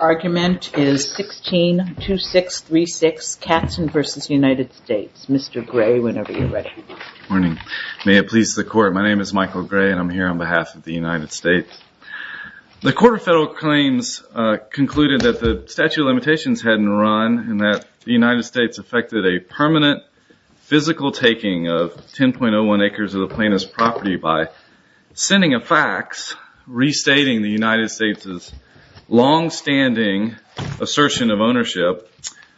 argument is 162636 Katzin v. United States. Mr. Gray, whenever you're ready. Good morning. May it please the Court, my name is Michael Gray and I'm here on behalf of the United States. The Court of Federal Claims concluded that the statute of limitations hadn't run and that the United States affected a permanent physical taking of 10.01 acres of the plaintiff's property by sending a fax restating the United States' longstanding assertion of ownership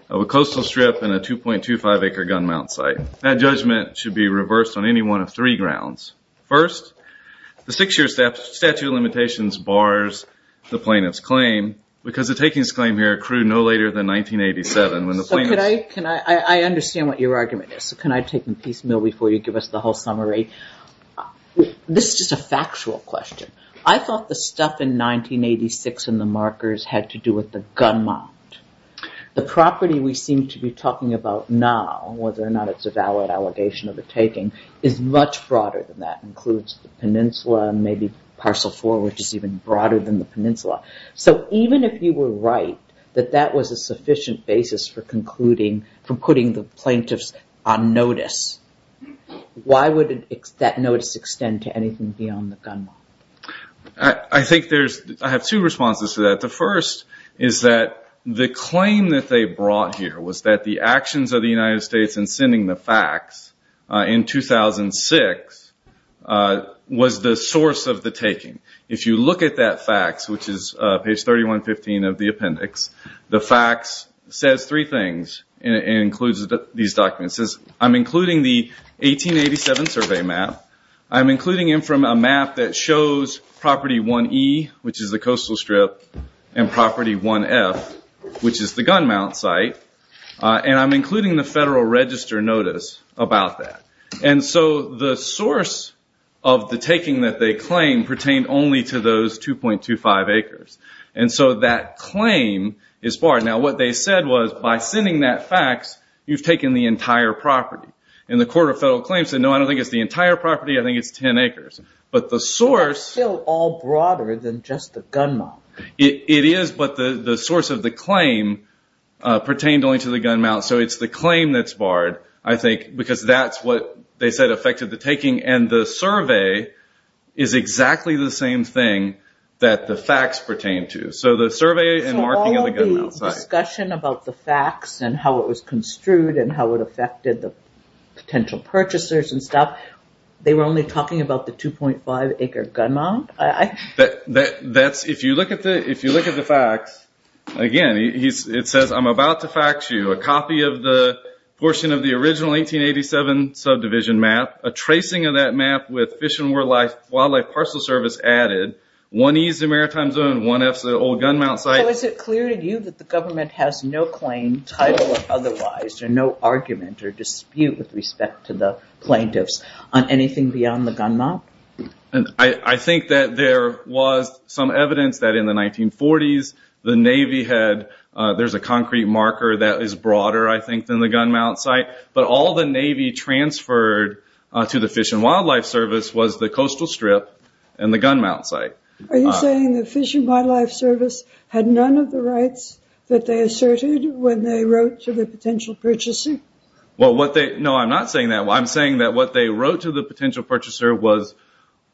of a coastal strip and a 2.25-acre gun mount site. That judgment should be reversed on any one of three grounds. First, the six-year statute of limitations bars the plaintiff's claim because the takings claim here accrued no later than 1987 when the plaintiff... So could I... I understand what your argument is. So can I take a piece of meal before you give us the whole summary? This is just a factual question. I thought the stuff in 1986 in the markers had to do with the gun mount. The property we seem to be talking about now, whether or not it's a valid allegation of a taking, is much broader than that. It includes the peninsula and maybe parcel four which is even broader than the peninsula. So even if you were right that that was a notice, why would that notice extend to anything beyond the gun mount? I think there's... I have two responses to that. The first is that the claim that they brought here was that the actions of the United States in sending the fax in 2006 was the source of the taking. If you look at that fax, which is page 3115 of the appendix, the I'm including the 1887 survey map. I'm including it from a map that shows property 1E, which is the coastal strip, and property 1F, which is the gun mount site. And I'm including the federal register notice about that. And so the source of the taking that they claim pertained only to those 2.25 acres. And so that claim is barred. Now what they said was by sending that fax, you've taken the entire property. And the Court of Federal Claims said, no, I don't think it's the entire property, I think it's 10 acres. But the source... They're still all broader than just the gun mount. It is, but the source of the claim pertained only to the gun mount. So it's the claim that's barred, I think, because that's what they said affected the taking. And the survey is exactly the same thing that the fax pertained to. So the survey and marking of the gun mount site... Discussion about the fax and how it was construed and how it affected the potential purchasers and stuff, they were only talking about the 2.5 acre gun mount? If you look at the fax, again, it says, I'm about to fax you a copy of the portion of the original 1887 subdivision map, a tracing of that map with Fish and Wildlife Parcel Service added, 1E is the maritime zone, 1F is the old gun mount site. So is it clear to you that the government has no claim, title of otherwise, or no argument or dispute with respect to the plaintiffs on anything beyond the gun mount? I think that there was some evidence that in the 1940s, the Navy had... There's a concrete marker that is broader, I think, than the gun mount site. But all the Navy transferred to the Fish and Wildlife Service was the coastal strip and the gun mount site. Are you saying the Fish and Wildlife Service had none of the rights that they asserted when they wrote to the potential purchaser? No, I'm not saying that. I'm saying that what they wrote to the potential purchaser was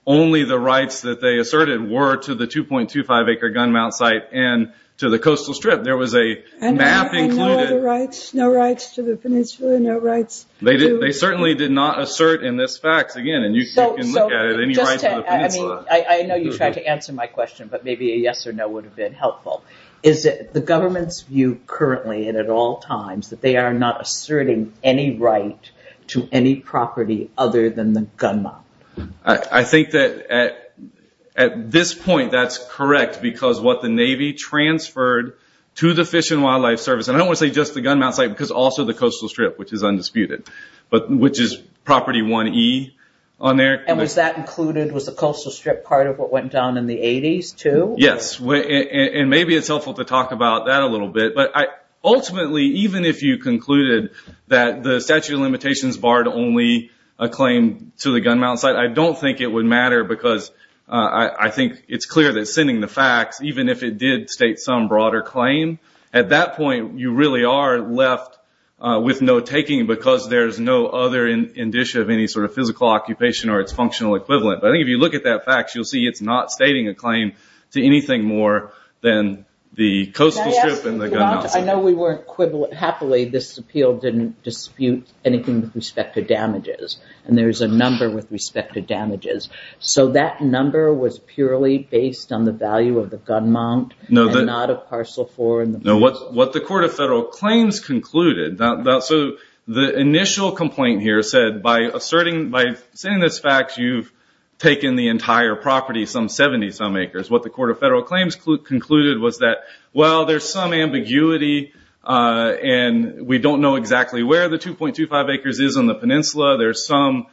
only the rights that they asserted were to the 2.25 acre gun mount site and to the coastal strip. There was a map included... And no other rights? No rights to the peninsula? No rights to... They certainly did not assert in this fax, again, and you can look at it, any rights to the peninsula. I know you're trying to answer my question, but maybe a yes or no would have been helpful. Is it the government's view currently and at all times that they are not asserting any right to any property other than the gun mount? I think that at this point, that's correct because what the Navy transferred to the Fish and Wildlife Service, and I don't want to say just the gun mount site because also the coastal strip, which is undisputed, but which is property 1E on there. And was that included, was the coastal strip part of what went down in the 80s too? Yes, and maybe it's helpful to talk about that a little bit, but ultimately, even if you concluded that the statute of limitations barred only a claim to the gun mount site, I don't think it would matter because I think it's clear that sending the fax, even if it did state some broader claim, at that point, you really are left with no taking because there's no other indicia of any sort of physical occupation or its functional equivalent. But I think if you look at that fax, you'll see it's not stating a claim to anything more than the coastal strip and the gun mount. I know we weren't... Happily, this appeal didn't dispute anything with respect to damages, and there's a number with respect to damages. So that number was purely based on the value of the gun mount and not a parcel for and the parcel for. What the Court of Federal Claims concluded... The initial complaint here said, by sending this fax, you've taken the entire property, some 70-some acres. What the Court of Federal Claims concluded was that, well, there's some ambiguity, and we don't know exactly where the 2.25 acres is on the peninsula. There's some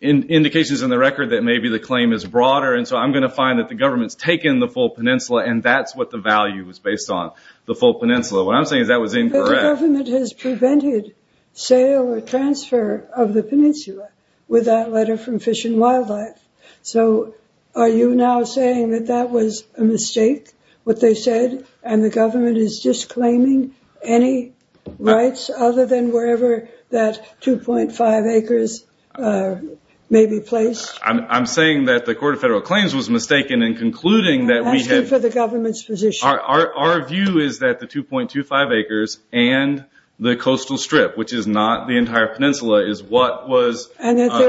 indications in the record that maybe the claim is broader, and so I'm going to find that the government's taken the full peninsula, and that's what the value was based on, the full peninsula. What I'm saying is that was incorrect. But the government has prevented sale or transfer of the peninsula with that letter from Fish and Wildlife. So are you now saying that that was a mistake, what they said, and the government is disclaiming any rights other than wherever that 2.5 acres may be placed? I'm saying that the Court of Federal Claims was mistaken in concluding that we had... I'm asking for the government's position. Our view is that the 2.25 acres and the coastal strip, which is not the entire peninsula, is what was asserted in this fax. And that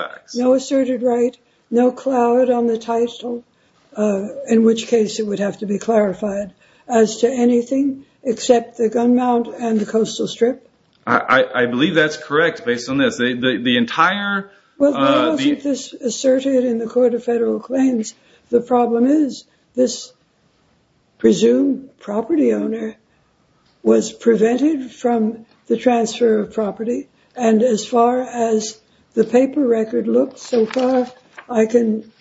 there is no asserted right, no clout on the title, in which case it would have to be clarified, as to anything except the gun mount and the coastal strip? I believe that's correct, based on this. The entire... Well, now that this is asserted in the Court of Federal Claims, the problem is this presumed property owner was prevented from the transfer of property. And as far as the paper record looks so far, I can...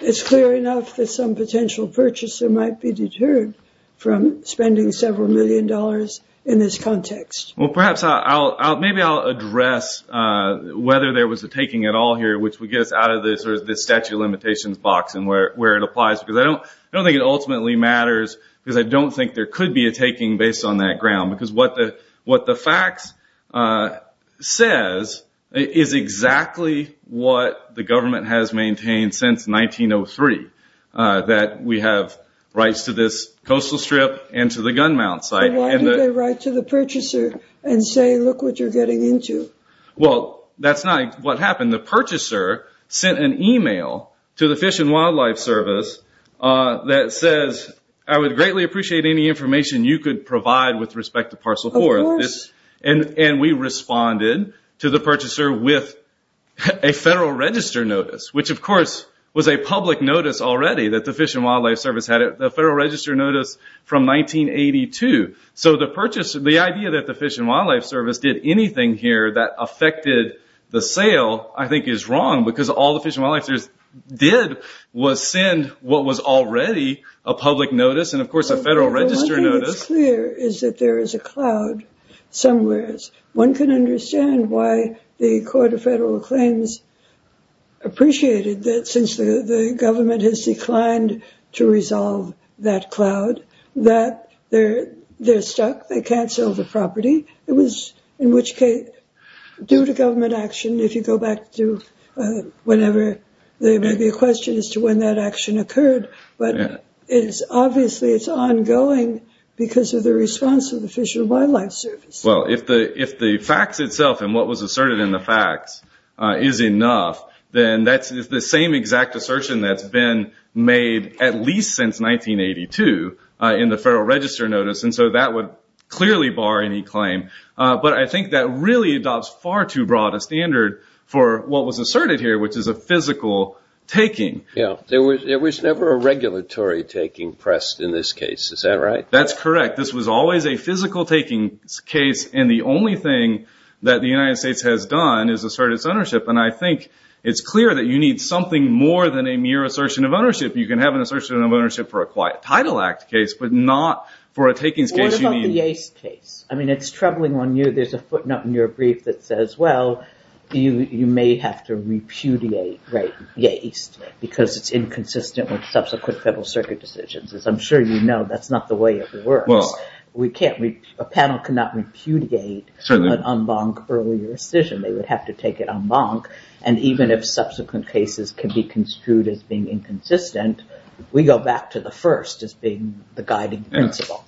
it's clear enough that some potential purchaser might be deterred from spending several million dollars in this context. Well, perhaps I'll... maybe I'll address whether there was a taking at all here, which would get us out of this statute of limitations box and where it applies. Because I don't think it ultimately matters, because I don't think there could be a taking based on that ground. Because what the fax says is exactly what the government has maintained since 1903, that we have rights to this coastal strip and to the gun mount site. Why do they write to the purchaser and say, look what you're getting into? Well, that's not what happened. The purchaser sent an email to the Fish and Wildlife Service that says, I would greatly appreciate any information you could provide with respect to Parcel 4. Of course. And we responded to the purchaser with a Federal Register Notice, which of course was a public notice already that the Fish and Wildlife Service had. The Federal Register Notice from 1982. So the purchase, the idea that the Fish and Wildlife Service did anything here that affected the sale, I think is wrong. Because all the Fish and Wildlife Service did was send what was already a public notice and of course a Federal Register Notice. Well, one thing that's clear is that there is a cloud somewhere. One can understand why the Court of Federal Claims appreciated that since the government has declined to resolve that cloud, that they're stuck, they can't sell the property. It was in which case, due to government action, if you go back to whenever, there may be a question as to when that action occurred. But it is obviously, it's ongoing because of the response of the Fish and Wildlife Service. Well, if the facts itself and what was asserted in the facts is enough, then that's the same exact assertion that's been made at least since 1982 in the Federal Register Notice. And so that would clearly bar any claim. But I think that really adopts far too broad a standard for what was asserted here, which is a physical taking. There was never a regulatory taking pressed in this case, is that right? That's correct. This was always a physical taking case and the only thing that the United States has done is assert its ownership. And I think it's clear that you need something more than a mere assertion of ownership. You can have an assertion of ownership for a Quiet Title Act case, but not for a takings case. What about the Yates case? I mean, it's troubling on you. There's a footnote in your brief that says, well, you may have to repudiate Yates because it's inconsistent with subsequent Federal Circuit decisions. As I'm sure you know, that's not the way it works. A panel cannot repudiate an en banc earlier decision. They would have to take it en banc. And even if subsequent cases can be construed as being inconsistent, we go back to the first as being the guiding principle.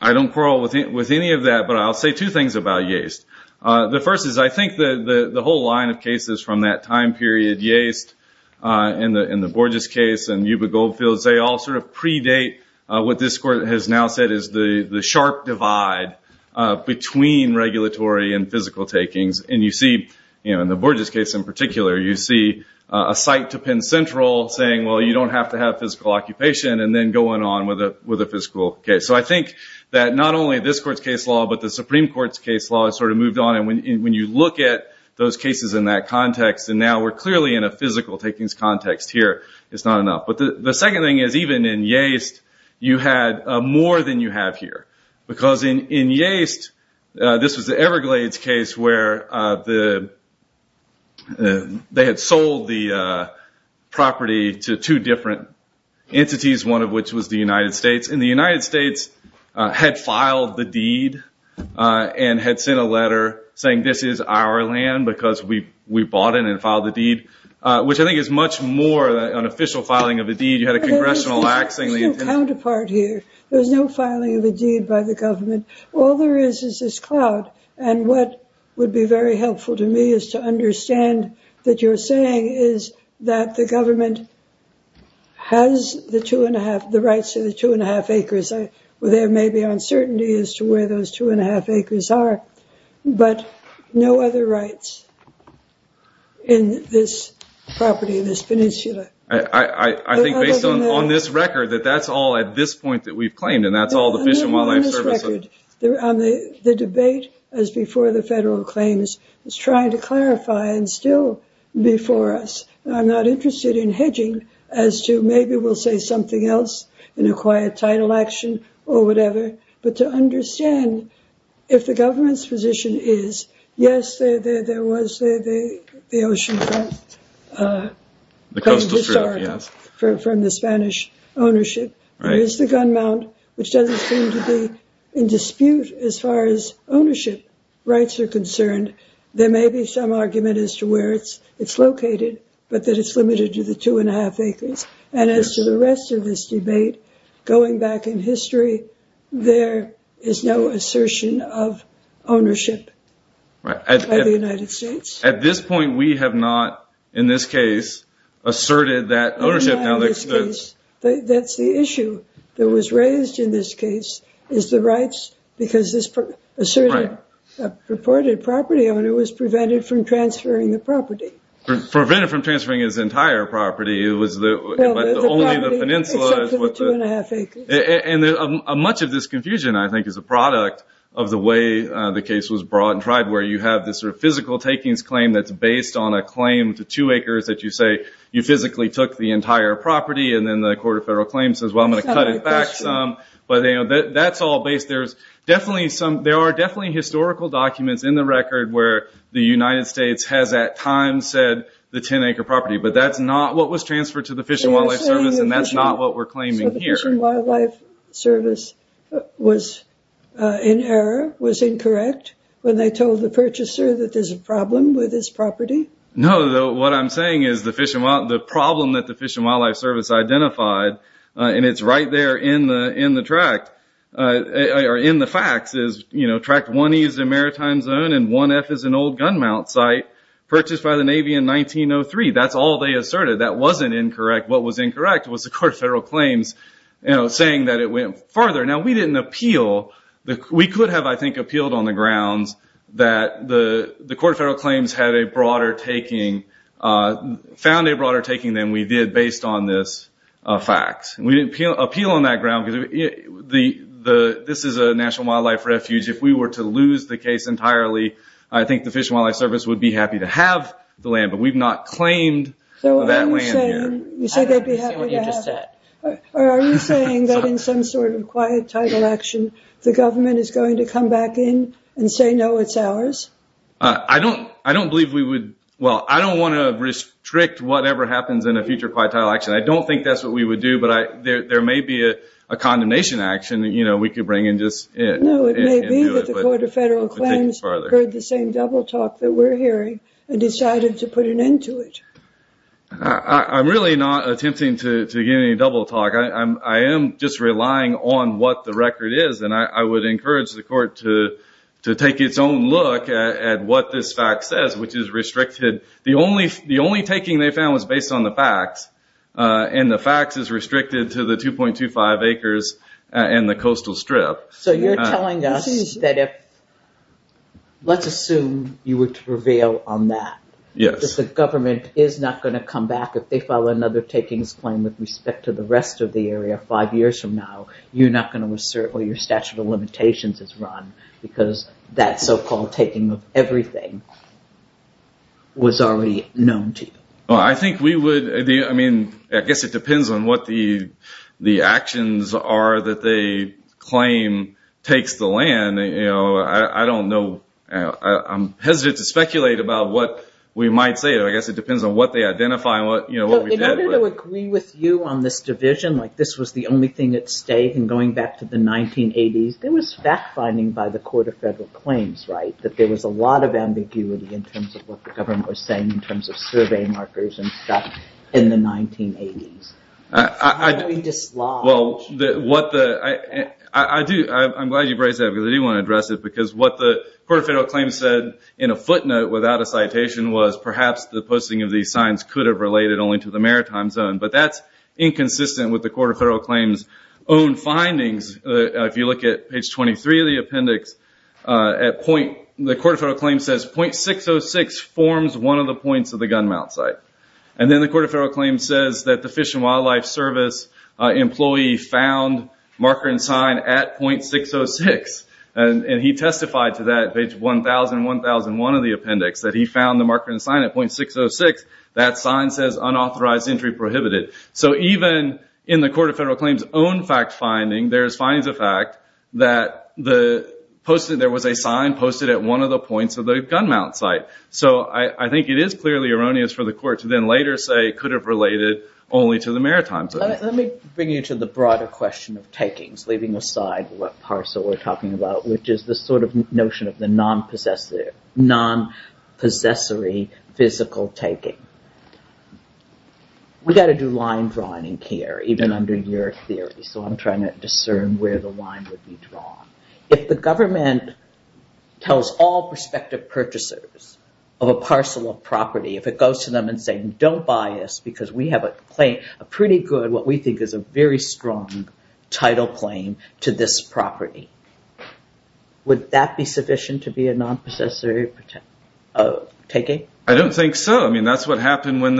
I don't quarrel with any of that, but I'll say two things about Yates. The first is, I think the whole line of cases from that time period, Yates in the Borges case and Yuba Goldfields, they all sort of predate what this court has now said is the takings. And you see, in the Borges case in particular, you see a site to Penn Central saying, well, you don't have to have physical occupation, and then going on with a physical case. So I think that not only this court's case law, but the Supreme Court's case law has sort of moved on. And when you look at those cases in that context, and now we're clearly in a physical takings context here, it's not enough. But the second thing is, even in Yates, you had more than you have here. Because in Yates, this was the Everglades case where they had sold the property to two different entities, one of which was the United States. And the United States had filed the deed and had sent a letter saying, this is our land because we bought it and filed the deed, which I think is much more of an official filing of a deed. You had a congressional laxing. There's no counterpart here. There's no filing of a deed by the government. All there is, is this cloud. And what would be very helpful to me is to understand that you're saying is that the government has the two and a half, the rights to the two and a half acres. There may be uncertainty as to where those two and a half acres are, but no other rights in this property, this peninsula. I think based on this record, that that's all at this point that we've claimed and that's all the Fish and Wildlife Service. The debate, as before the federal claims, is trying to clarify and still before us. I'm not interested in hedging as to maybe we'll say something else in a quiet title action or whatever, but to understand if the government's position is, yes, there was the motion from the Spanish ownership, there is the gun mount, which doesn't seem to be in dispute as far as ownership rights are concerned. There may be some argument as to where it's located, but that it's limited to the two and a half acres. And as to the rest of this debate, going back in history, there is no assertion of ownership by the United States. At this point, we have not, in this case, asserted that ownership. In this case, that's the issue that was raised in this case, is the rights, because this asserted, purported property owner was prevented from transferring the property. Prevented from transferring his entire property, it was only the peninsula. Well, the property, except for the two and a half acres. Much of this confusion, I think, is a product of the way the case was brought and tried, where you have this physical takings claim that's based on a claim to two acres that you say you physically took the entire property, and then the Court of Federal Claims says, well, I'm going to cut it back some. That's all based, there's definitely some, there are definitely historical documents in the record where the United States has at times said the 10 acre property, but that's not what was transferred to the Fish and Wildlife Service, and that's not what we're claiming here. So, the Fish and Wildlife Service was in error, was incorrect, when they told the purchaser that there's a problem with his property? No, what I'm saying is the problem that the Fish and Wildlife Service identified, and it's right there in the tract, or in the facts, is tract 1E is a maritime zone, and 1F is an old gun mount site, purchased by the Navy in 1903. That's all they asserted. That wasn't incorrect. What was incorrect was the Court of Federal Claims saying that it went farther. Now, we didn't appeal. We could have, I think, appealed on the grounds that the Court of Federal Claims had a broader taking, found a broader taking than we did based on this fact. We didn't appeal on that ground, because this is a National Wildlife Refuge. If we were to lose the case entirely, I think the Fish and Wildlife Service would be happy to have the land, but we've not claimed that land yet. I don't understand what you just said. Are you saying that in some sort of quiet title action, the government is going to come back in and say, no, it's ours? I don't believe we would... Well, I don't want to restrict whatever happens in a future quiet title action. I don't think that's what we would do, but there may be a condemnation action that we could bring and just... No, it may be that the Court of Federal Claims heard the same double talk that we're hearing and decided to put an end to it. I'm really not attempting to give any double talk. I am just relying on what the record is, and I would encourage the court to take its own look at what this fact says, which is restricted... The only taking they found was based on the facts, and the facts is restricted to the 2.25 acres and the coastal strip. You're telling us that if... Let's assume you were to prevail on that. Yes. If the government is not going to come back, if they file another takings claim with respect to the rest of the area five years from now, you're not going to assert where your statute of limitations is run because that so-called taking of everything was already known to you? I think we would... I guess it depends on what the actions are that they claim takes the land. I don't know. I'm hesitant to speculate about what we might say. I guess it depends on what they identify and what we've had. In order to agree with you on this division, like this was the only thing at stake and going back to the 1980s, there was fact-finding by the Court of Federal Claims, right, that there was a lot of ambiguity in terms of what the government was saying in terms of survey How do we dislodge... Well, what the... I'm glad you braced that because I do want to address it because what the Court of Federal Claims said in a footnote without a citation was perhaps the posting of these signs could have related only to the maritime zone, but that's inconsistent with the Court of Federal Claims' own findings. If you look at page 23 of the appendix, the Court of Federal Claims says, .606 forms one of the points of the gun mount site. Then the Court of Federal Claims says that the Fish and Wildlife Service employee found marker and sign at .606. He testified to that, page 1,000, 1,001 of the appendix, that he found the marker and sign at .606. That sign says, unauthorized entry prohibited. Even in the Court of Federal Claims' own fact-finding, there's findings of fact that there was a sign posted at one of the points of the gun mount site. I think it is clearly erroneous for the court to then later say it could have related only to the maritime zone. Let me bring you to the broader question of takings, leaving aside what Parcel were talking about, which is the notion of the non-possessory physical taking. We got to do line drawing in CARE, even under your theory, so I'm trying to discern where the line would be drawn. If the government tells all prospective purchasers of a parcel of property, if it goes to them and says, don't buy us, because we have a pretty good, what we think is a very strong title claim to this property, would that be sufficient to be a non-possessory taking? I don't think so. That's what happened when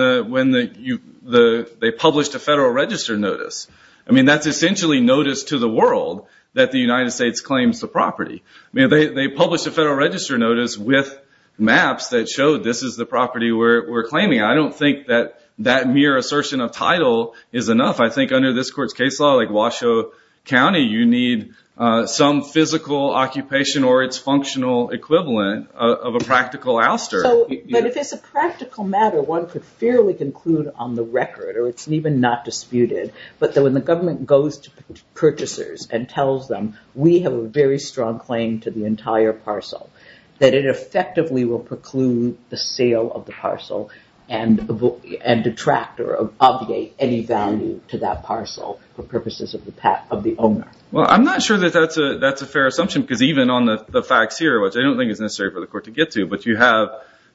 they published a Federal Register notice. That's essentially notice to the world that the United States claims the property. They published a Federal Register notice with maps that showed this is the property we're claiming. I don't think that that mere assertion of title is enough. I think under this court's case law, like Washoe County, you need some physical occupation or its functional equivalent of a practical ouster. If it's a practical matter, one could fairly conclude on the record, or it's even not disputed, but that when the government goes to purchasers and tells them, we have a very strong claim to the entire parcel, that it effectively will preclude the sale of the parcel and detract or obviate any value to that parcel for purposes of the owner. I'm not sure that that's a fair assumption, because even on the facts here, which I don't think is necessary for the court to get to, but you have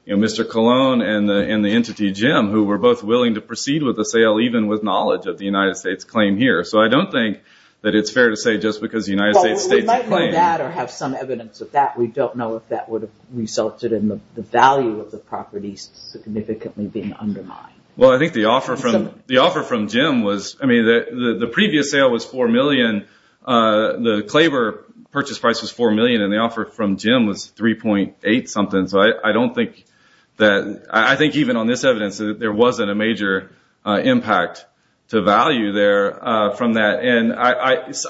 Mr. Colon and the entity, Jim, who were both willing to proceed with the sale, even with knowledge of the United States claim here. I don't think that it's fair to say just because the United States states a claim. We might know that or have some evidence of that. We don't know if that would have resulted in the value of the property significantly being undermined. Well, I think the offer from Jim was... The previous sale was $4 million. The Claybor purchase price was $4 million, and the offer from Jim was $3.8 something. I don't think that... I think even on this evidence, there wasn't a major impact to value there from that.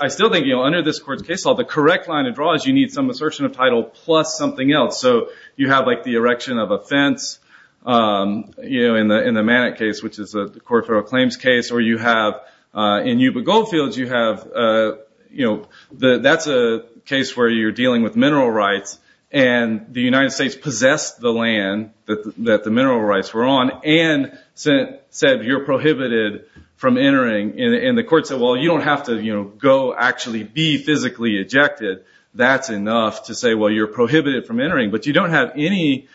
I still think under this court's case law, the correct line of draw is you need some assertion of title plus something else. You have the erection of a fence in the Manet case, which is a court for a claims case, or you have in Yuba Goldfields, you have... That's a case where you're dealing with mineral rights, and the United States possessed the land that the mineral rights were on, and said you're prohibited from entering. The court said, well, you don't have to go actually be physically ejected. That's enough to say, well, you're prohibited from entering, but you don't have any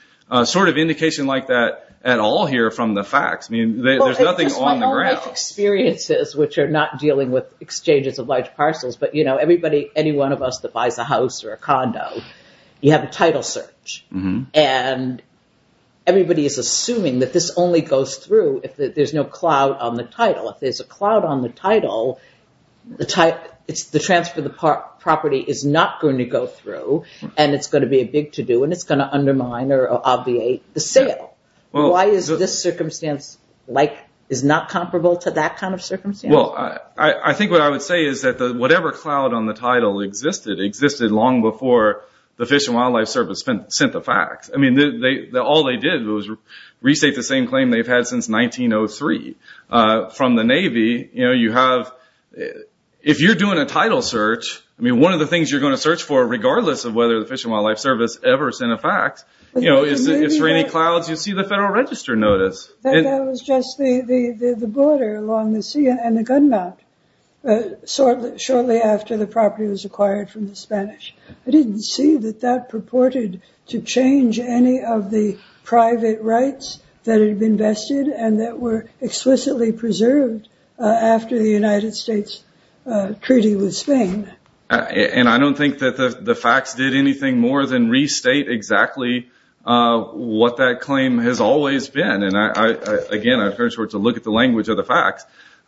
sort of indication like that at all here from the facts. There's nothing on the ground. It's just my own life experiences, which are not dealing with exchanges of large parcels, but everybody, any one of us that buys a house or a condo, you have a title search, and everybody is assuming that this only goes through if there's no cloud on the title. If there's a cloud on the title, the transfer of the property is not going to go through, and it's going to be a big to-do, and it's going to undermine or obviate the sale. Why is this circumstance is not comparable to that kind of circumstance? I think what I would say is that whatever cloud on the title existed, existed long before the Fish and Wildlife Service sent the facts. All they did was restate the same claim they've had since 1903 from the Navy. If you're doing a title search, one of the things you're going to search for, regardless of whether the Fish and Wildlife Service ever sent a fact, is for any clouds you see the Federal Register notice. That was just the border along the sea and the gun mount, shortly after the property was acquired from the Spanish. I didn't see that that purported to change any of the private rights that had been vested and that were explicitly preserved after the United States treaty with Spain. I don't think that the facts did anything more than restate exactly what that claim has always been. Again, I've heard it to look at the language of the facts.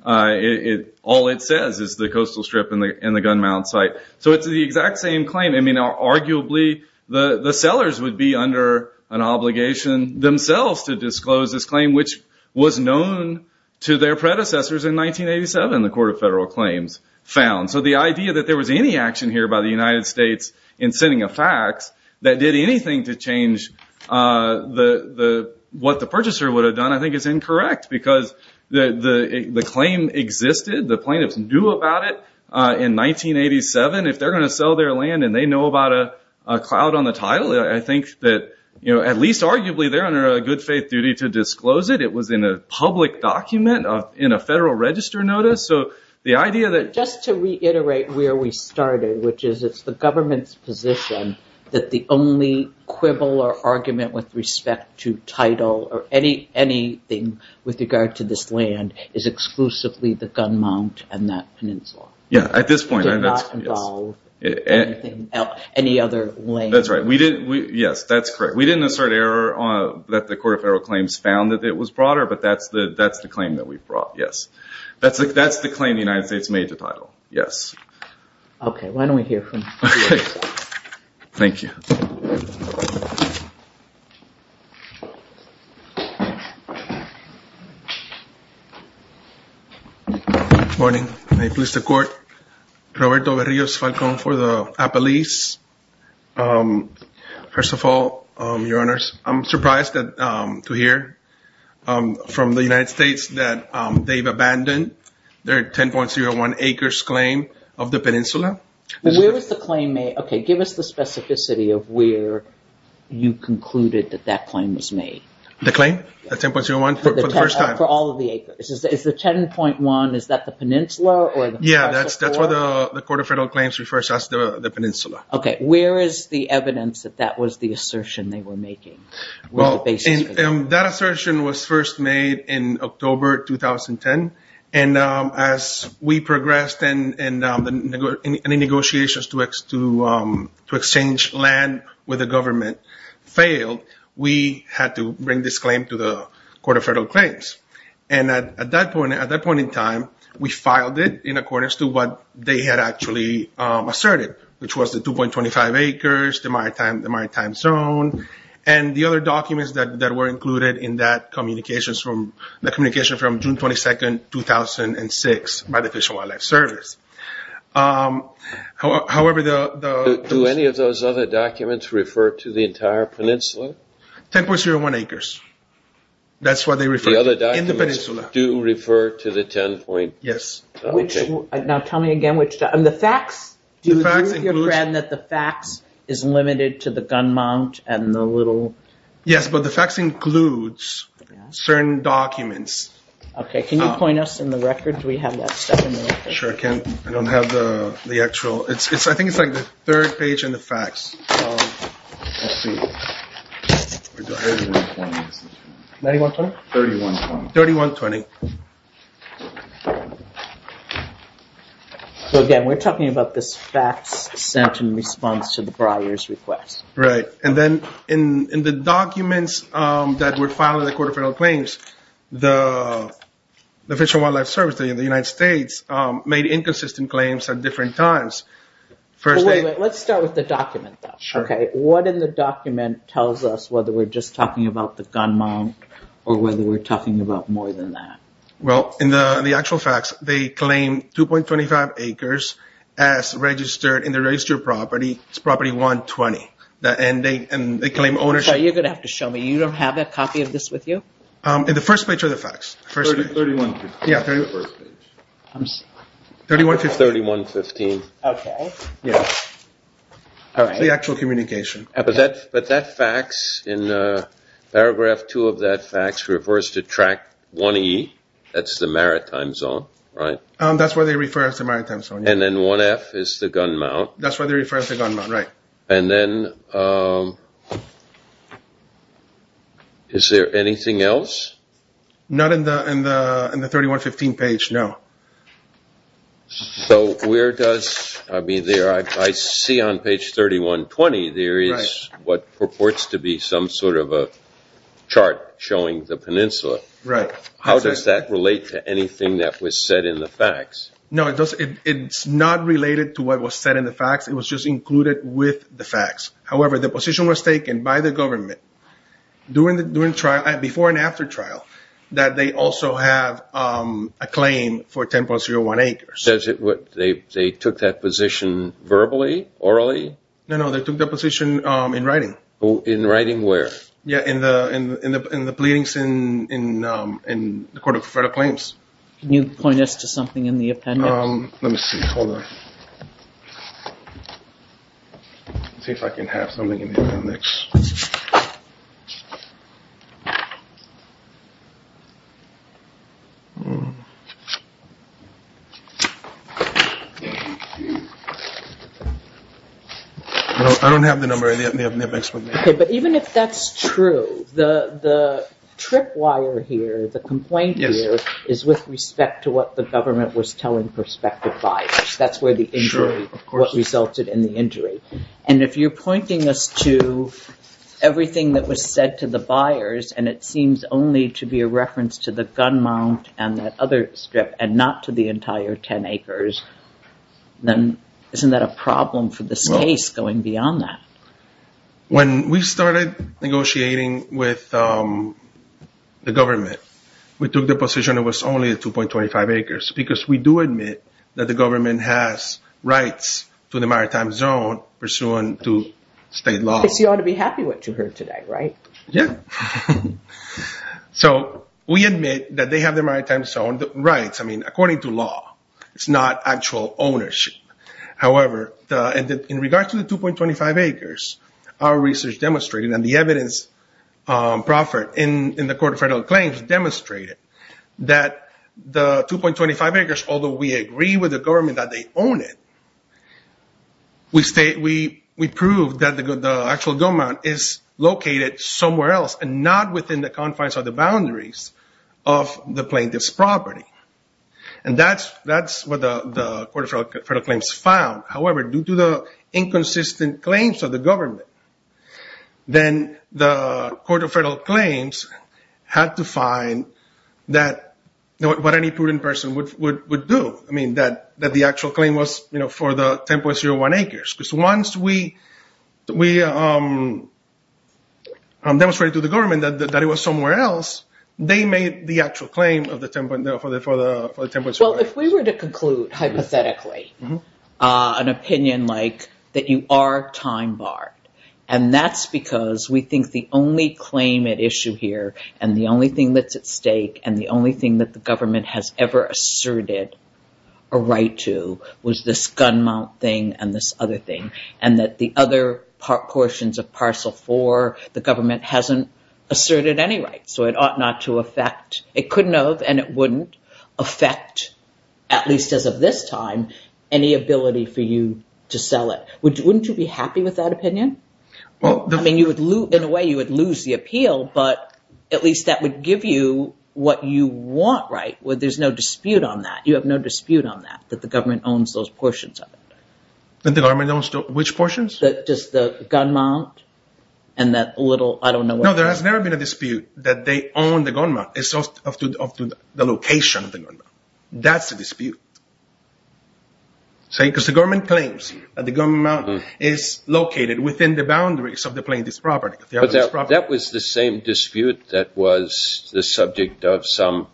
All it says is the coastal strip and the gun mount site. It's the exact same claim. Arguably, the sellers would be under an obligation themselves to disclose this claim, which was known to their predecessors in 1987, the Court of Federal Claims found. The idea that there was any action here by the United States in sending a fact that did anything to change what the purchaser would have done, I think is incorrect. The claim existed. The plaintiffs knew about it in 1987. If they're going to sell their land and they know about a cloud on the title, I think that at least arguably they're under a good faith duty to disclose it. It was in a public document in a Federal Register notice. The idea that- Just to reiterate where we started, which is it's the government's position that the only quibble or argument with respect to title or anything with regard to this land is exclusively the gun mount and that peninsula. Yeah. At this point, yes. It did not involve anything, any other land. That's right. Yes, that's correct. We didn't assert error that the Court of Federal Claims found that it was broader, but that's the claim that we brought, yes. That's the claim the United States made to title, yes. Okay. Why don't we hear from- Okay. Thank you. Good morning. May it please the Court. Roberto Berrios, Falcón for the Apalese. First of all, Your Honors, I'm surprised to hear from the United States that they've abandoned their 10.01 acres claim of the peninsula. Where was the claim made? Okay, give us the specificity of where you concluded that that claim was made. The claim? The 10.01 for the first time? For all of the acres. Is the 10.01, is that the peninsula or- Okay. Where is the evidence that that was the assertion they were making? Well, that assertion was first made in October 2010. And as we progressed and the negotiations to exchange land with the government failed, we had to bring this claim to the Court of Federal Claims. And at that point in time, we filed it in accordance to what they had actually asserted, which was the 2.25 acres, the maritime zone, and the other documents that were included in that communication from June 22, 2006 by the Fish and Wildlife Service. Do any of those other documents refer to the entire peninsula? 10.01 acres. That's what they refer to in the peninsula. The other documents do refer to the 10.01? Yes. Now tell me again which- The facts? Do you agree with your friend that the facts is limited to the gun mount and the little- Yes, but the facts includes certain documents. Okay. Can you point us in the record? Do we have that stuff in the record? Sure. I don't have the actual- I think it's like the third page in the facts. 3120? 3120. 3120. Again, we're talking about this facts sent in response to the briar's request. Right. And then in the documents that were filed in the Court of Federal Claims, the Fish and Wildlife Service in the United States made inconsistent claims at different times. First they- Let's start with the document though. Sure. Okay. What in the document tells us whether we're just talking about the gun mount or whether we're talking about more than that? Well, in the actual facts, they claim 2.25 acres as registered in the registered property. It's property 120. And they claim ownership- I'm sorry. You're going to have to show me. You don't have a copy of this with you? In the first page of the facts. 3115. Yeah, 3115. I'm sorry. 3115. 3115. Okay. Yeah. All right. It's the actual communication. But that facts in paragraph two of that facts refers to track 1E. That's the maritime zone, right? That's where they refer us to maritime zone. And then 1F is the gun mount. That's where they refer us to gun mount, right. And then is there anything else? Not in the 3115 page, no. So where does- I see on page 3120, there is what purports to be some sort of a chart showing the peninsula. Right. How does that relate to anything that was said in the facts? No, it's not related to what was said in the facts. It was just included with the facts. However, the position was taken by the government before and after trial that they also have a claim for 10.01 acres. They took that position verbally, orally? No, no. They took that position in writing. In writing where? Yeah, in the pleadings in the court of federal claims. Can you point us to something in the appendix? Let me see. Hold on. Let's see if I can have something in the appendix. I don't have the number in the appendix. Okay, but even if that's true, the trip wire here, the complaint here, is with respect to what the government was telling prospective buyers. That's where the injury- Sure, of course. What resulted in the injury. And if you're pointing us to everything that was said to the buyers, and it seems only to be a reference to the gun mount and that other strip, and not to the entire 10.01 acres, then isn't that a problem for this case going beyond that? When we started negotiating with the government, we took the position it was only the 2.25 acres, because we do admit that the government has rights to the maritime zone pursuant to state law. Because you ought to be happy what you heard today, right? Yeah. So we admit that they have the maritime zone rights. I mean, according to law. It's not actual ownership. However, in regards to the 2.25 acres, our research demonstrated, and the evidence proffered in the Court of Federal Claims demonstrated that the 2.25 acres, although we agree with the government that they own it, we prove that the actual gun mount is located somewhere else and not within the confines or the boundaries of the plaintiff's property. And that's what the Court of Federal Claims found. However, due to the inconsistent claims of the government, then the Court of Federal Claims had to find what any prudent person would do. I mean, that the actual claim was for the 10.01 acres. Because once we demonstrated to the government that it was somewhere else, they made the actual claim for the 10.01 acres. Well, if we were to conclude hypothetically an opinion like that you are time barred, and that's because we think the only claim at issue here and the only thing that's at stake and the only thing that the government has ever asserted a right to was this gun mount thing and this other thing and that the other portions of Parcel 4 the government hasn't asserted any right. It couldn't have and it wouldn't affect at least as of this time any ability for you to sell it. Wouldn't you be happy with that opinion? In a way you would lose the appeal but at least that would give you what you want, right? There's no dispute on that. You have no dispute on that that the government owns those portions of it. That the government owns which portions? Just the gun mount and that little... No, there has never been a dispute that they own the gun mount as of the location of the gun mount. That's a dispute. Because the government claims that the gun mount is located within the boundaries of the plaintiff's property. But that was the same dispute that was the subject of some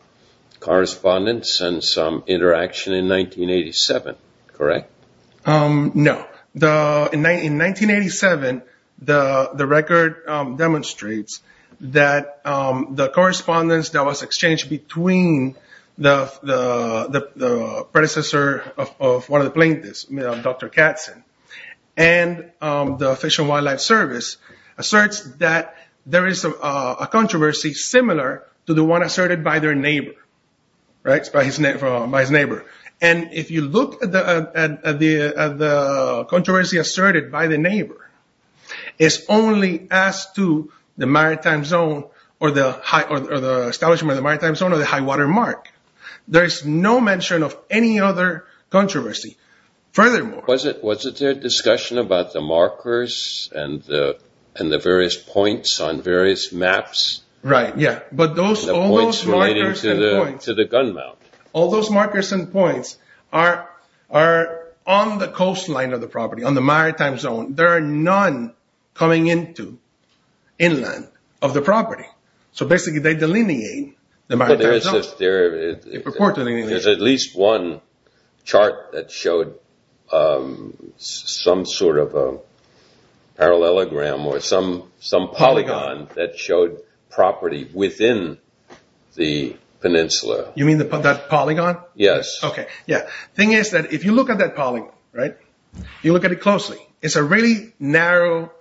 correspondence and some interaction in 1987, correct? No. In 1987 the record demonstrates that the correspondence that was exchanged between the predecessor of one of the plaintiffs Dr. Katzen and the Fish and Wildlife Service asserts that there is a controversy similar to the one asserted by their neighbor. Right? By his neighbor. And if you look at the controversy asserted by the neighbor it's only as to the maritime zone or the establishment of the maritime zone or the high water mark. There is no mention of any other controversy. Furthermore... Was it their discussion about the markers and the various points on various maps? Right, yeah. But all those markers and points... The points relating to the gun mount. All those markers and points are on the coastline of the property on the maritime zone. There are none coming into inland of the property. So basically they delineate the maritime zone. There is at least one chart that showed some sort of a parallelogram or some polygon that showed property within the peninsula. You mean that polygon? Yes. The thing is that if you look at that polygon you look at it closely it's a really narrow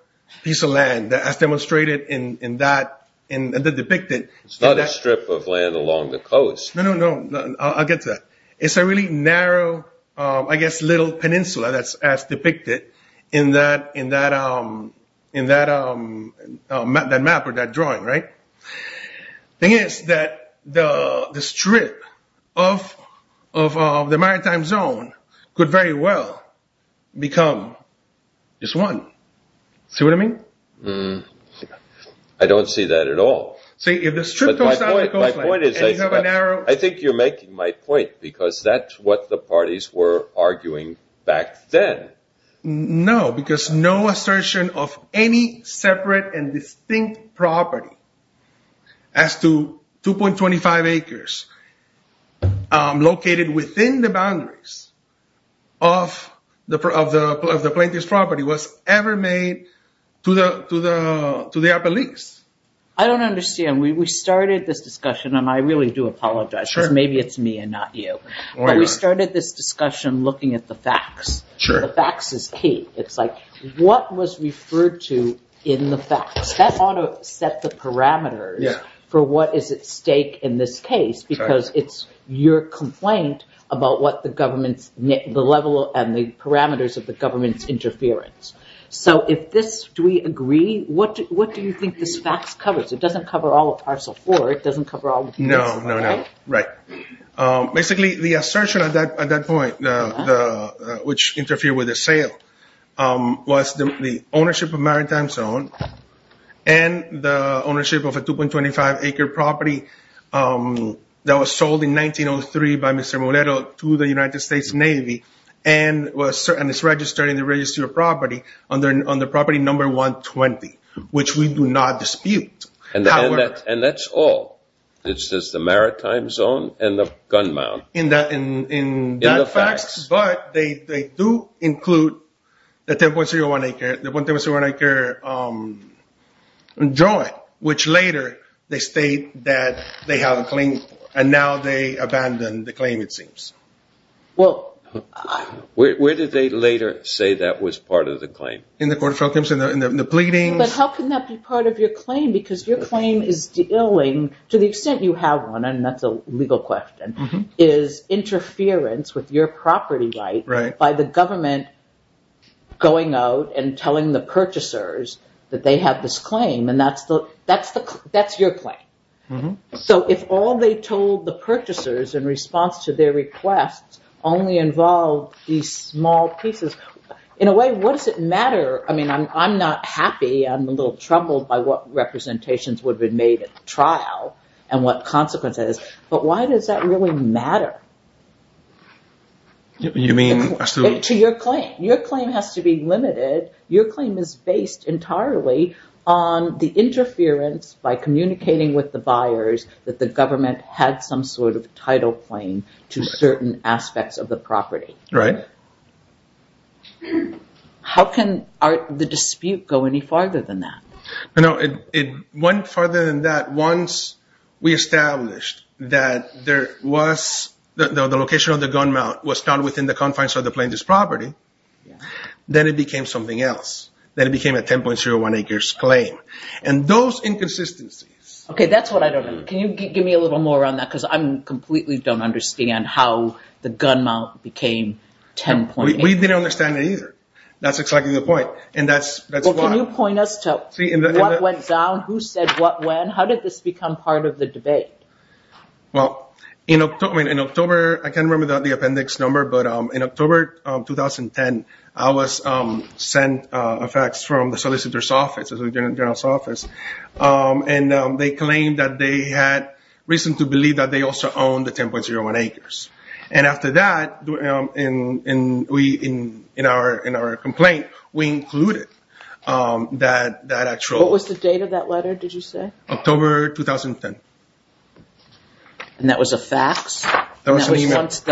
piece of land as demonstrated in the depicted... It's not a strip of land along the coast. No, no, no. I'll get to that. It's a really narrow I guess little peninsula as depicted in that in that map or that drawing, right? The thing is that the strip of the maritime zone could very well become just one. See what I mean? I don't see that at all. My point is that I think you're making my point because that's what the parties were arguing back then. No, because no assertion of any separate and distinct property as to 2.25 acres located within the boundaries of the plaintiff's property was ever made to their beliefs. I don't understand. We started this discussion and I really do apologize because maybe it's me and not you. We started this discussion looking at the facts. The facts is key. It's like what was referred to in the facts? That ought to set the parameters for what is at stake in this case because it's your complaint about the level and the parameters of the government's interference. So if this, do we agree? What do you think this facts covers? It doesn't cover all of parcel four. It doesn't cover all of parcel five, right? No, no, no. Right. Basically, the assertion at that point which interfered with the sale was the ownership of maritime zone and the ownership of a 2.25 acre property that was sold in 1903 to the United States Navy and is registered in the registry of property on the property number 120 which we do not dispute. And that's all? It's just the maritime zone and the gun mount? In the facts, but they do include the 10.01 acre joint which later they state that they have a claim and now they abandon the claim, it seems. Well, where did they later say that was part of the claim? In the court of films, in the pleadings. But how can that be part of your claim because your claim is dealing to the extent you have one and that's a legal question is interference with your property right by the government going out and telling the purchasers that they have this claim and that's your claim. So if all they told the purchasers in response to their request only involved these small pieces in a way, what does it matter? I mean, I'm not happy I'm a little troubled by what representations would have been made at the trial and what consequences but why does that really matter? You mean? To your claim. Your claim has to be limited. Your claim is based entirely on the interference by communicating with the buyers that the government had some sort of title claim to certain aspects of the property. Right. How can the dispute go any farther than that? No, it went farther than that once we established that there was the location of the gun mount was not within the confines of the plaintiff's property. Then it became something else. Then it became a 10.01 acres claim. And those inconsistencies... Okay, that's what I don't understand. Can you give me a little more on that? Because I completely don't understand how the gun mount became 10.8 acres. We didn't understand it either. That's exactly the point. Can you point us to what went down? Who said what when? How did this become part of the debate? Well, in October I can't remember the appendix number but in October 2010 I was sent a fax from the solicitor's office and they claimed that they had reason to believe that they also owned the 10.01 acres. And after that in our complaint we included that actual... What was the date of that letter? Did you say? October 2010. And that was a fax? That was a fax.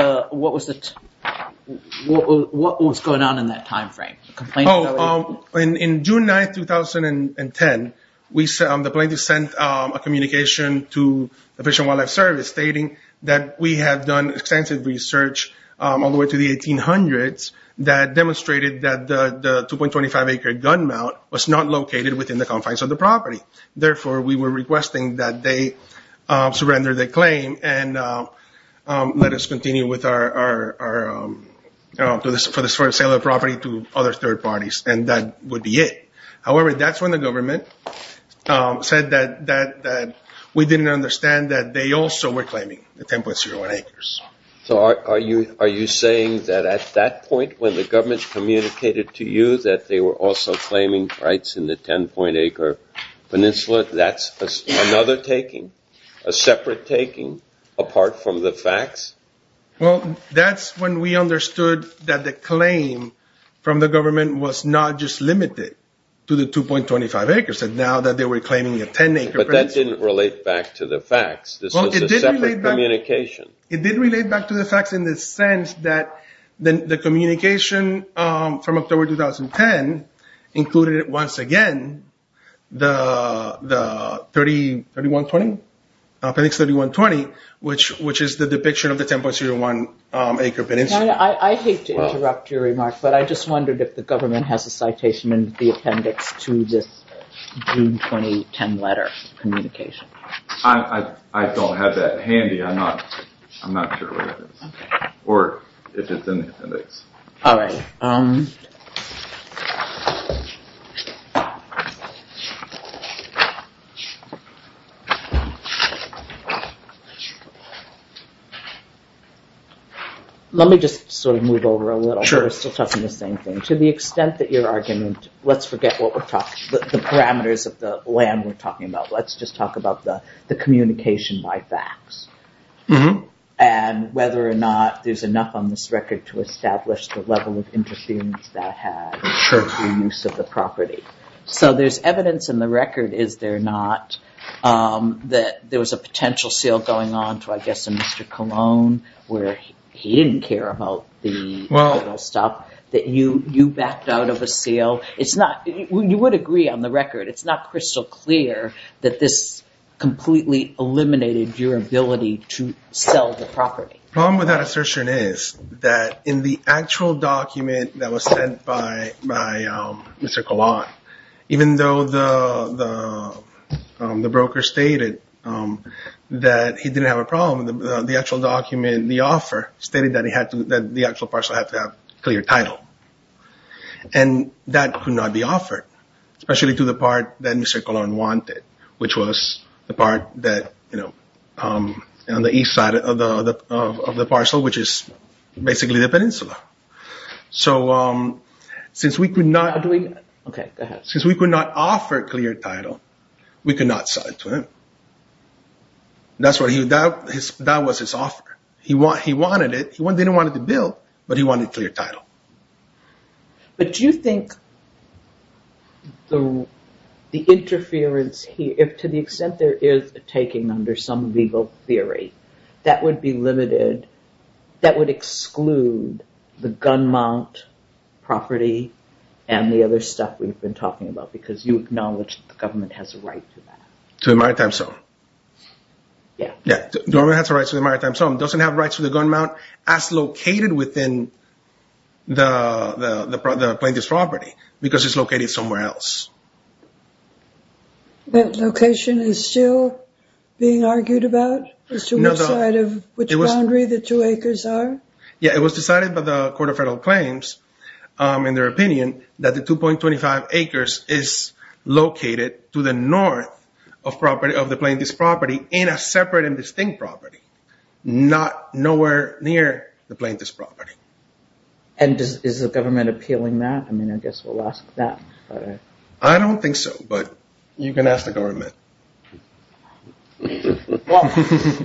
What was going on in that time frame? In June 9, 2010 the plaintiff sent a communication to the Fish and Wildlife Service stating that we had done extensive research all the way to the 1800s that demonstrated that the 2.25 acre gun mount was not located within the confines of the property. that they surrender the claim and let us continue with our... for the sale of the property to other third parties and that would be it. However, that's when the government said that we didn't understand that they also were claiming the 10.01 acres. So are you saying that at that point when the government communicated to you that they were also claiming rights in the 10.01 acre peninsula that's another taking? A separate taking? Apart from the fax? Well, that's when we understood that the claim from the government was not just limited to the 2.25 acres now that they were claiming a 10 acre peninsula. But that didn't relate back to the fax. This was a separate communication. It did relate back to the fax in the sense that the communication from October 2010 included once again the 30... 3120? Penix 3120 which is the depiction of the 10.01 acre peninsula. I hate to interrupt your remark but I just wondered if the government has a citation in the appendix to this June 2010 letter communication. I don't have that handy. I'm not sure where it is. Or if it's in the appendix. All right. Let me just sort of move over a little. Sure. We're still talking the same thing. To the extent that your argument... Let's forget what we're talking... the parameters of the land we're talking about. Let's just talk about the communication by fax. I don't think so. I don't think so. I don't think so. I don't think so. I don't think so. Sure. The problem with that assertion is that in the actual document that was sent by Mr. Colon even though the broker stated that he didn't have a problem the actual document, the offer stated that the actual parcel had to have a clear title. And that could not be offered. Especially to the part that Mr. Colon wanted which was the part that on the east side of the parcel which is basically the peninsula. So since we could not... Since we could not offer a clear title we could not sell it to him. That was his offer. He wanted it. He didn't want it to build but he wanted a clear title. But do you think the interference here to the extent there is a taking under some legal theory that would be limited... that would exclude the gun mount property and the other stuff we've been talking about because you acknowledge the government has a right to that. To the maritime zone. Yeah. The government has a right to the maritime zone. It doesn't have rights to the gun mount as located within the plaintiff's property because it's located somewhere else. That location is still being argued about? As to which side of... Which boundary the two acres are? Yeah, it was decided by the Court of Federal Claims in their opinion that the 2.25 acres is located to the north of the plaintiff's property in a separate and distinct property. Not... Nowhere near the plaintiff's property. And is the government appealing that? I mean, I guess we'll ask that. I don't think so but you can ask the government.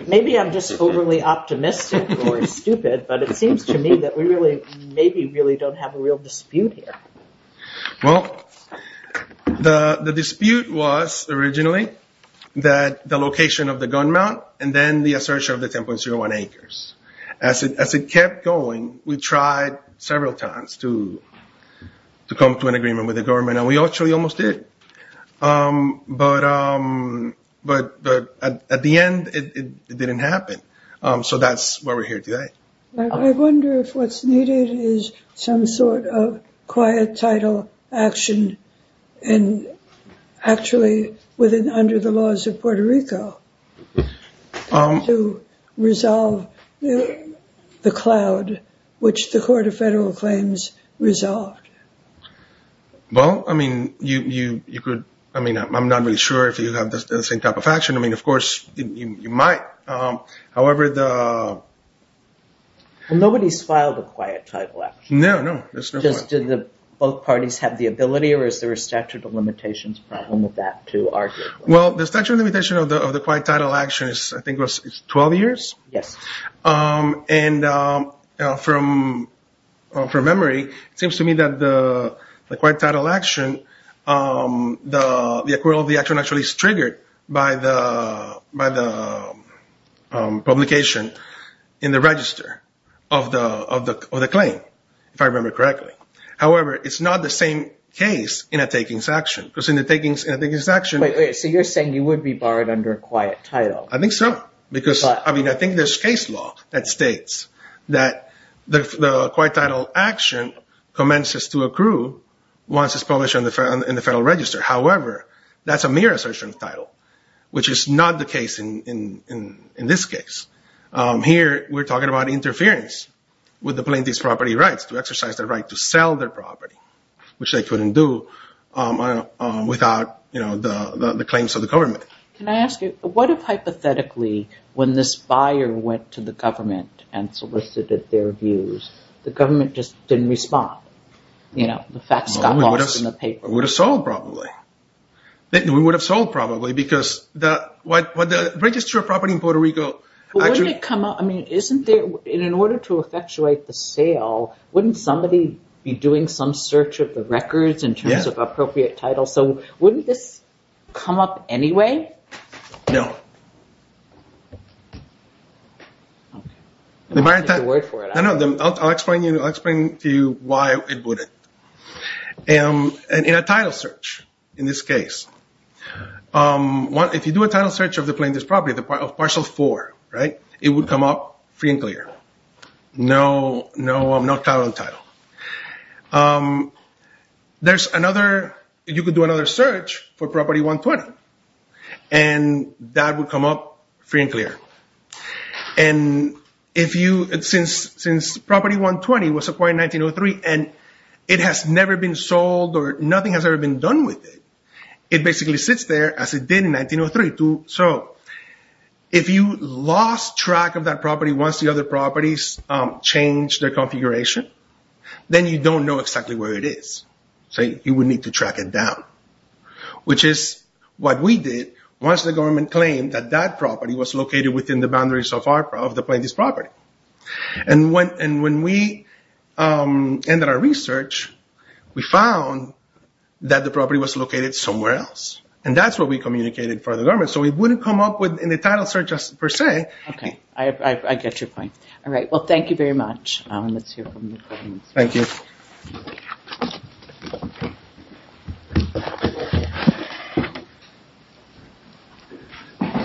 Maybe I'm just overly optimistic or stupid but it seems to me that we really maybe really don't have a real dispute here. Well, the dispute was originally that the location of the gun mount and then the assertion of the 10.01 acres. As it kept going, we tried several times to come to an agreement with the government and we actually almost did. But... But at the end, it didn't happen. So that's why we're here today. I wonder if what's needed is some sort of quiet title action and actually under the laws of Puerto Rico to resolve the cloud which the Court of Federal Claims resolved. Well, I mean, I mean, I'm not really sure if you have the same type of action. I mean, of course, you might. However, the... Well, nobody's filed a quiet title action. No, no. Just did both parties have the ability or is there a statute of limitations problem with that to argue? Well, the statute of limitations of the quiet title action I think was 12 years? Yes. And from memory, it seems to me that the quiet title action, the acquittal of the action actually is triggered by the publication in the register of the claim, if I remember correctly. However, it's not the same case in a takings action because in the takings action... So you're saying you would be barred under a quiet title? I think so because I mean, I think there's case law that states that the quiet title action commences to accrue once it's published in the Federal Register. However, that's a mere assertion of title which is not the case in this case. Here, we're talking about interference with the plaintiff's property rights to exercise the right to sell their property which they couldn't do without the claims of the government. Can I ask you, what if hypothetically when this buyer went to the government and solicited their views, the government just didn't respond? You know, the facts got lost in the paper. It would have sold probably. It would have sold probably because what the Register of Property in Puerto Rico... Wouldn't it come up... I mean, isn't there... In order to effectuate the sale, wouldn't somebody be doing some search of the records in terms of appropriate titles? Yes. So wouldn't this come up anyway? No. I'll take your word for it. I know. I'll explain to you why it wouldn't. In a title search, in this case, if you do a title search of the plaintiff's property, of Partial 4, it would come up free and clear. No, I'm not caught on title. There's another... You could do another search for Property 120 and that would come up free and clear. Since Property 120 was acquired in 1903 and it has never been sold or nothing has ever been done with it, it basically sits there as it did in 1903. If you lost track of that property once the other properties changed their configuration, then you don't know exactly where it is. You would need to track it down, which is what we did once the government claimed that that property was located within the boundaries of the plaintiff's property. When we ended our research, we found that the property was located somewhere else. That's what we communicated for the government. It wouldn't come up in the title search per se. I get your point. Thank you very much. Thank you. Thank you.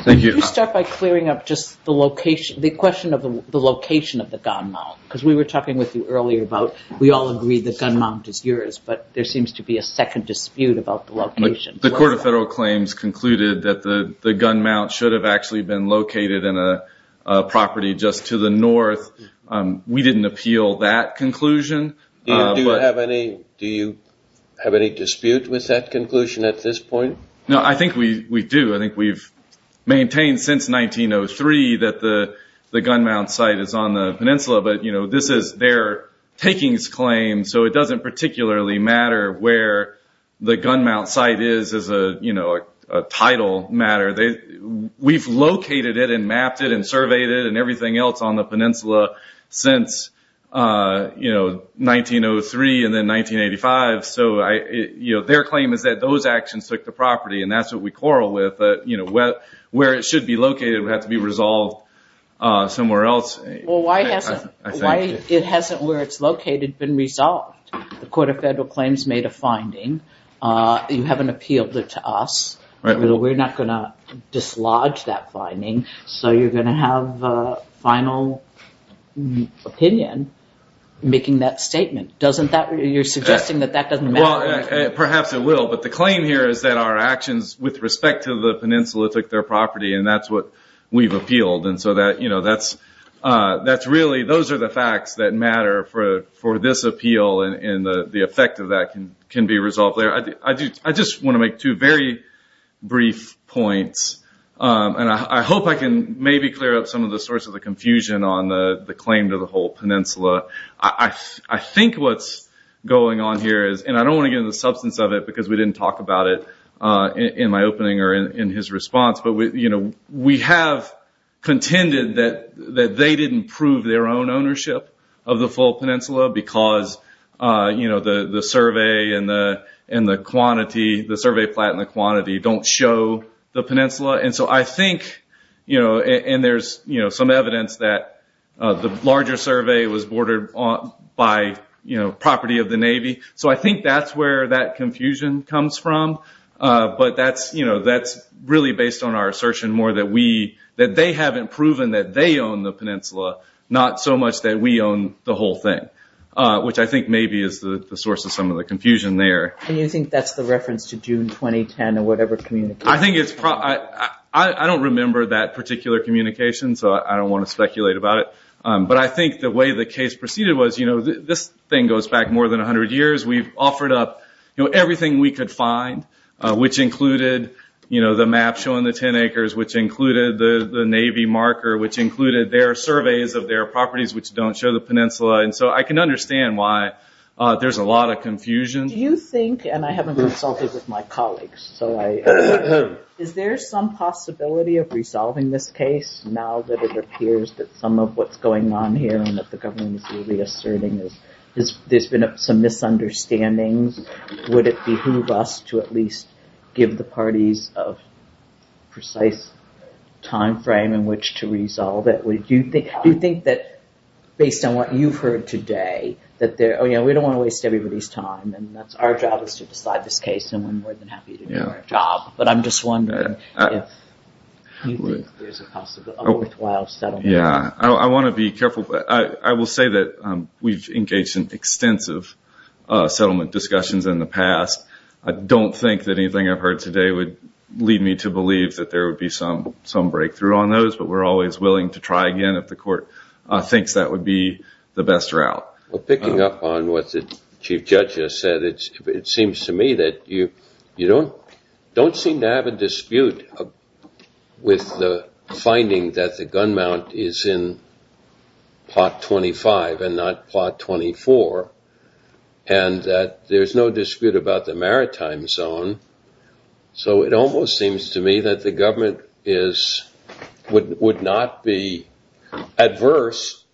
Could you start by clearing up the question of the location of the gun mount? Because we were talking with you earlier about we all agree the gun mount is yours, but there seems to be a second dispute about the location. The Court of Federal Claims concluded that the gun mount should have actually been located in a property just to the north. We didn't appeal that conclusion. Do you have any dispute with that conclusion at this point? I think we do. I think we've maintained since 1903 that the gun mount site is on the peninsula. This is their takings claim, so it doesn't particularly matter where the gun mount site is as a title matter. We've located it and mapped it and surveyed it and everything else on the peninsula since 1903 and then 1985. Their claim is that those actions took the property and that's what we quarrel with, but where it should be located would have to be resolved somewhere else. Why hasn't where it's located been resolved? The Court of Federal Claims made a finding. You haven't appealed it to us. We're not going to dislodge that finding, so you're going to have a final opinion making that statement. You're suggesting that that doesn't matter. Perhaps it will, but the claim here is that our actions with respect to the peninsula took their property and that's what we've appealed. Those are the facts that matter for this appeal and the effect of that can be resolved there. I just want to make two very brief points. I hope I can maybe clear up some of the source of the confusion on the claim to the whole peninsula. I think what's going on here is, and I don't want to get into the substance of it because we didn't talk about it in my opening or in his response, but we have contended that they didn't prove their own ownership of the full peninsula because the survey and the quantity, the survey plot and the quantity don't show the peninsula. I think, and there's some evidence that the larger survey was bordered by property of the Navy. I think that's where that confusion comes from. That's really based on our assertion more that they haven't proven that they own the peninsula not so much that we own the whole thing which I think maybe is the source of some of the confusion there. And you think that's the reference to June 2010 or whatever communication? I don't remember that particular communication so I don't want to speculate about it but I think the way the case proceeded was this thing goes back more than 100 years. We've offered up everything we could find which included the map showing the 10 acres which included the Navy marker which included their surveys of their properties which don't show the peninsula and so I can understand why there's a lot of confusion. Do you think and I haven't consulted with my colleagues so is there some possibility of resolving this case now that it appears that some of what's going on here and that the government is really asserting there's been some misunderstandings? Would it behoove us to at least give the parties a precise time frame in which to resolve it? Do you think that based on what you've heard today that we don't want to waste everybody's time and our job is to decide this case and we're more than happy to do our job but I'm just wondering if you think there's a worthwhile settlement? I will say that we've engaged in extensive settlement discussions in the past. I don't think that anything I've heard today would lead me to believe that there would be some breakthrough on those but we're always willing to try again if the court thinks be the best route. Picking up on what the Chief Judge just said, it seems to me that you don't seem to have a dispute with the finding that the gun mount is in plot 25 and not plot 24 and that there's no dispute about the maritime zone so it almost seems to me that the government would not be adverse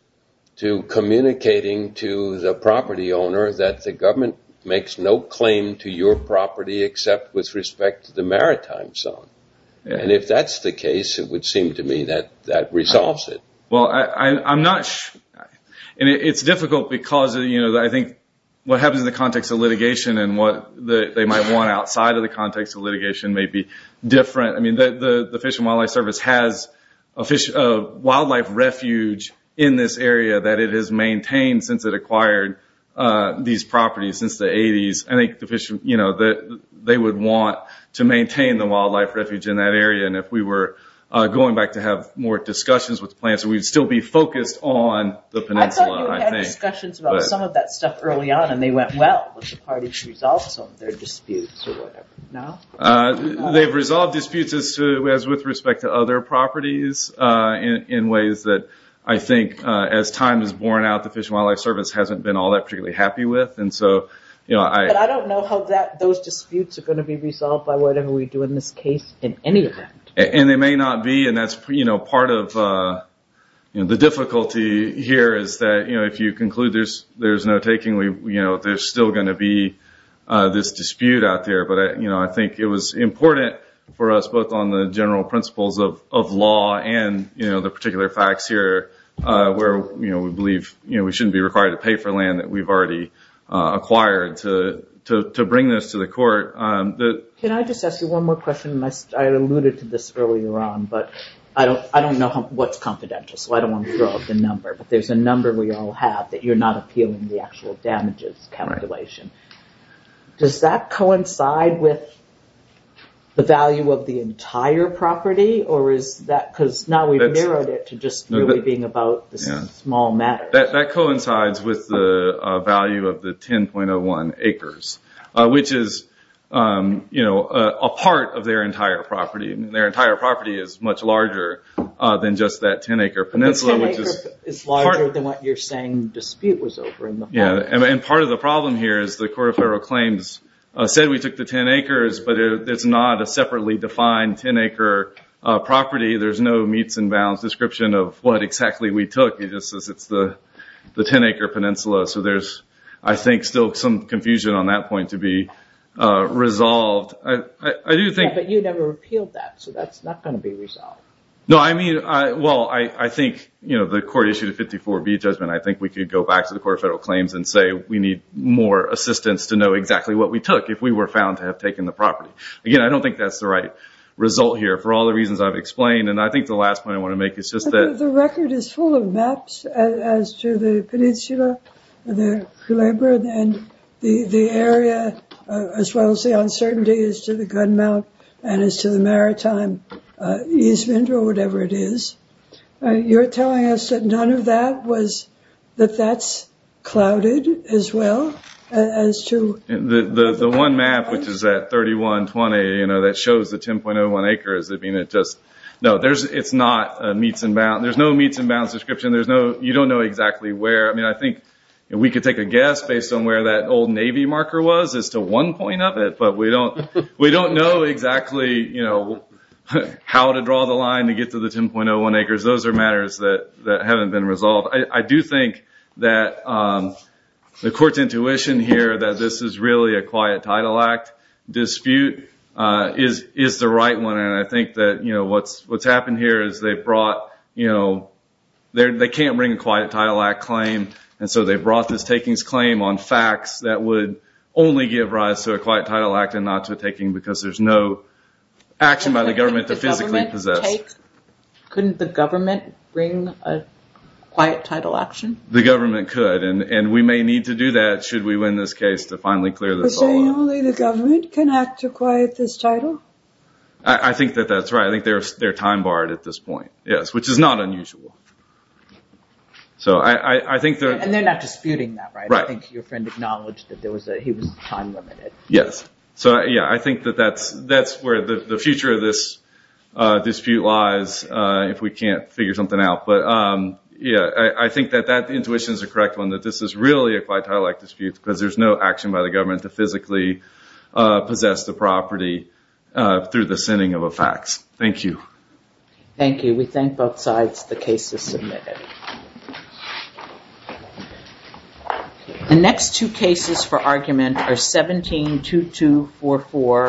to communicating to the property owner that the government makes no claim to your property except with respect to the maritime zone. And if that's the case, it would seem to me that that resolves it. It's difficult because I think what happens in the context of litigation and what they might want outside of the context of litigation may be different. The Fish and Wildlife Service has a wildlife refuge in this area that it has maintained since it acquired these properties since the 80s. I think they would want to maintain the wildlife refuge in that area and if we were going back to have more discussions with plants we would still be focused on the peninsula. I thought you had discussions about some of that stuff early on and they went well. They have resolved disputes with respect to other properties in ways that I think as time has worn out the Fish and Wildlife Service hasn't been happy with. I don't know how those disputes are going to be resolved. And they may not be resolved. There is still going to be this dispute out there. I think it was important for us both on the general principles of law and the particular facts here where we believe we shouldn't be required to pay for land that we have already acquired to bring this to the court. I alluded to this earlier on but I don't know what is confidential. There is a number we all have that you are not appealing the damages calculation. Does that coincide with the value of the entire property or is that because now we have narrowed it to being about small matters. That coincides with the value of the 10.01 acres which is a part of their entire property. Their entire property is much larger than just that 10 acre peninsula. Part of the problem here is the court of federal claims said we took the 10 acres but it is not a separately defined 10 acre property. There is no meets and bounds description of what we took. It is the 10 acre peninsula. There is still some confusion on that point to be resolved. You never appealed that. That is not going to be resolved. I think the court issued a 54B judgment. I think we can go back to the court of federal claims and say we need more assistance. I don't think that is the right result. I think the last point I want to make is that the record is full of maps as to the peninsula. The area as well as the uncertainty is to the gun mount and the maritime easement or whatever it is. You are telling us that none of that is clouded as well. The one map which is at 10.01 acres, it is not meets and bounds. There is no meets and bounds description. You don't know exactly where. We can take a guess as to one point of it. We don't know how to draw the line to get to the 10.01 acres. I do think that the court's intuition here that this is really a quiet title act dispute is the right one. I think what has happened here is they can't bring a quiet act claim. They brought this claim on facts that would only give rise to a quiet title act. There is no action by the government. The government couldn't bring a quiet title action? The government could. We may need to do that should we win this case. I think they are time barred at this point, which is not unusual. They are not disputing that. Your friend is right. There is no action by the government to physically possess the property through the sending of a fax. We thank both sides for the cases submitted. The next two cases for argument are 172244 and 17108. The next two cases for argument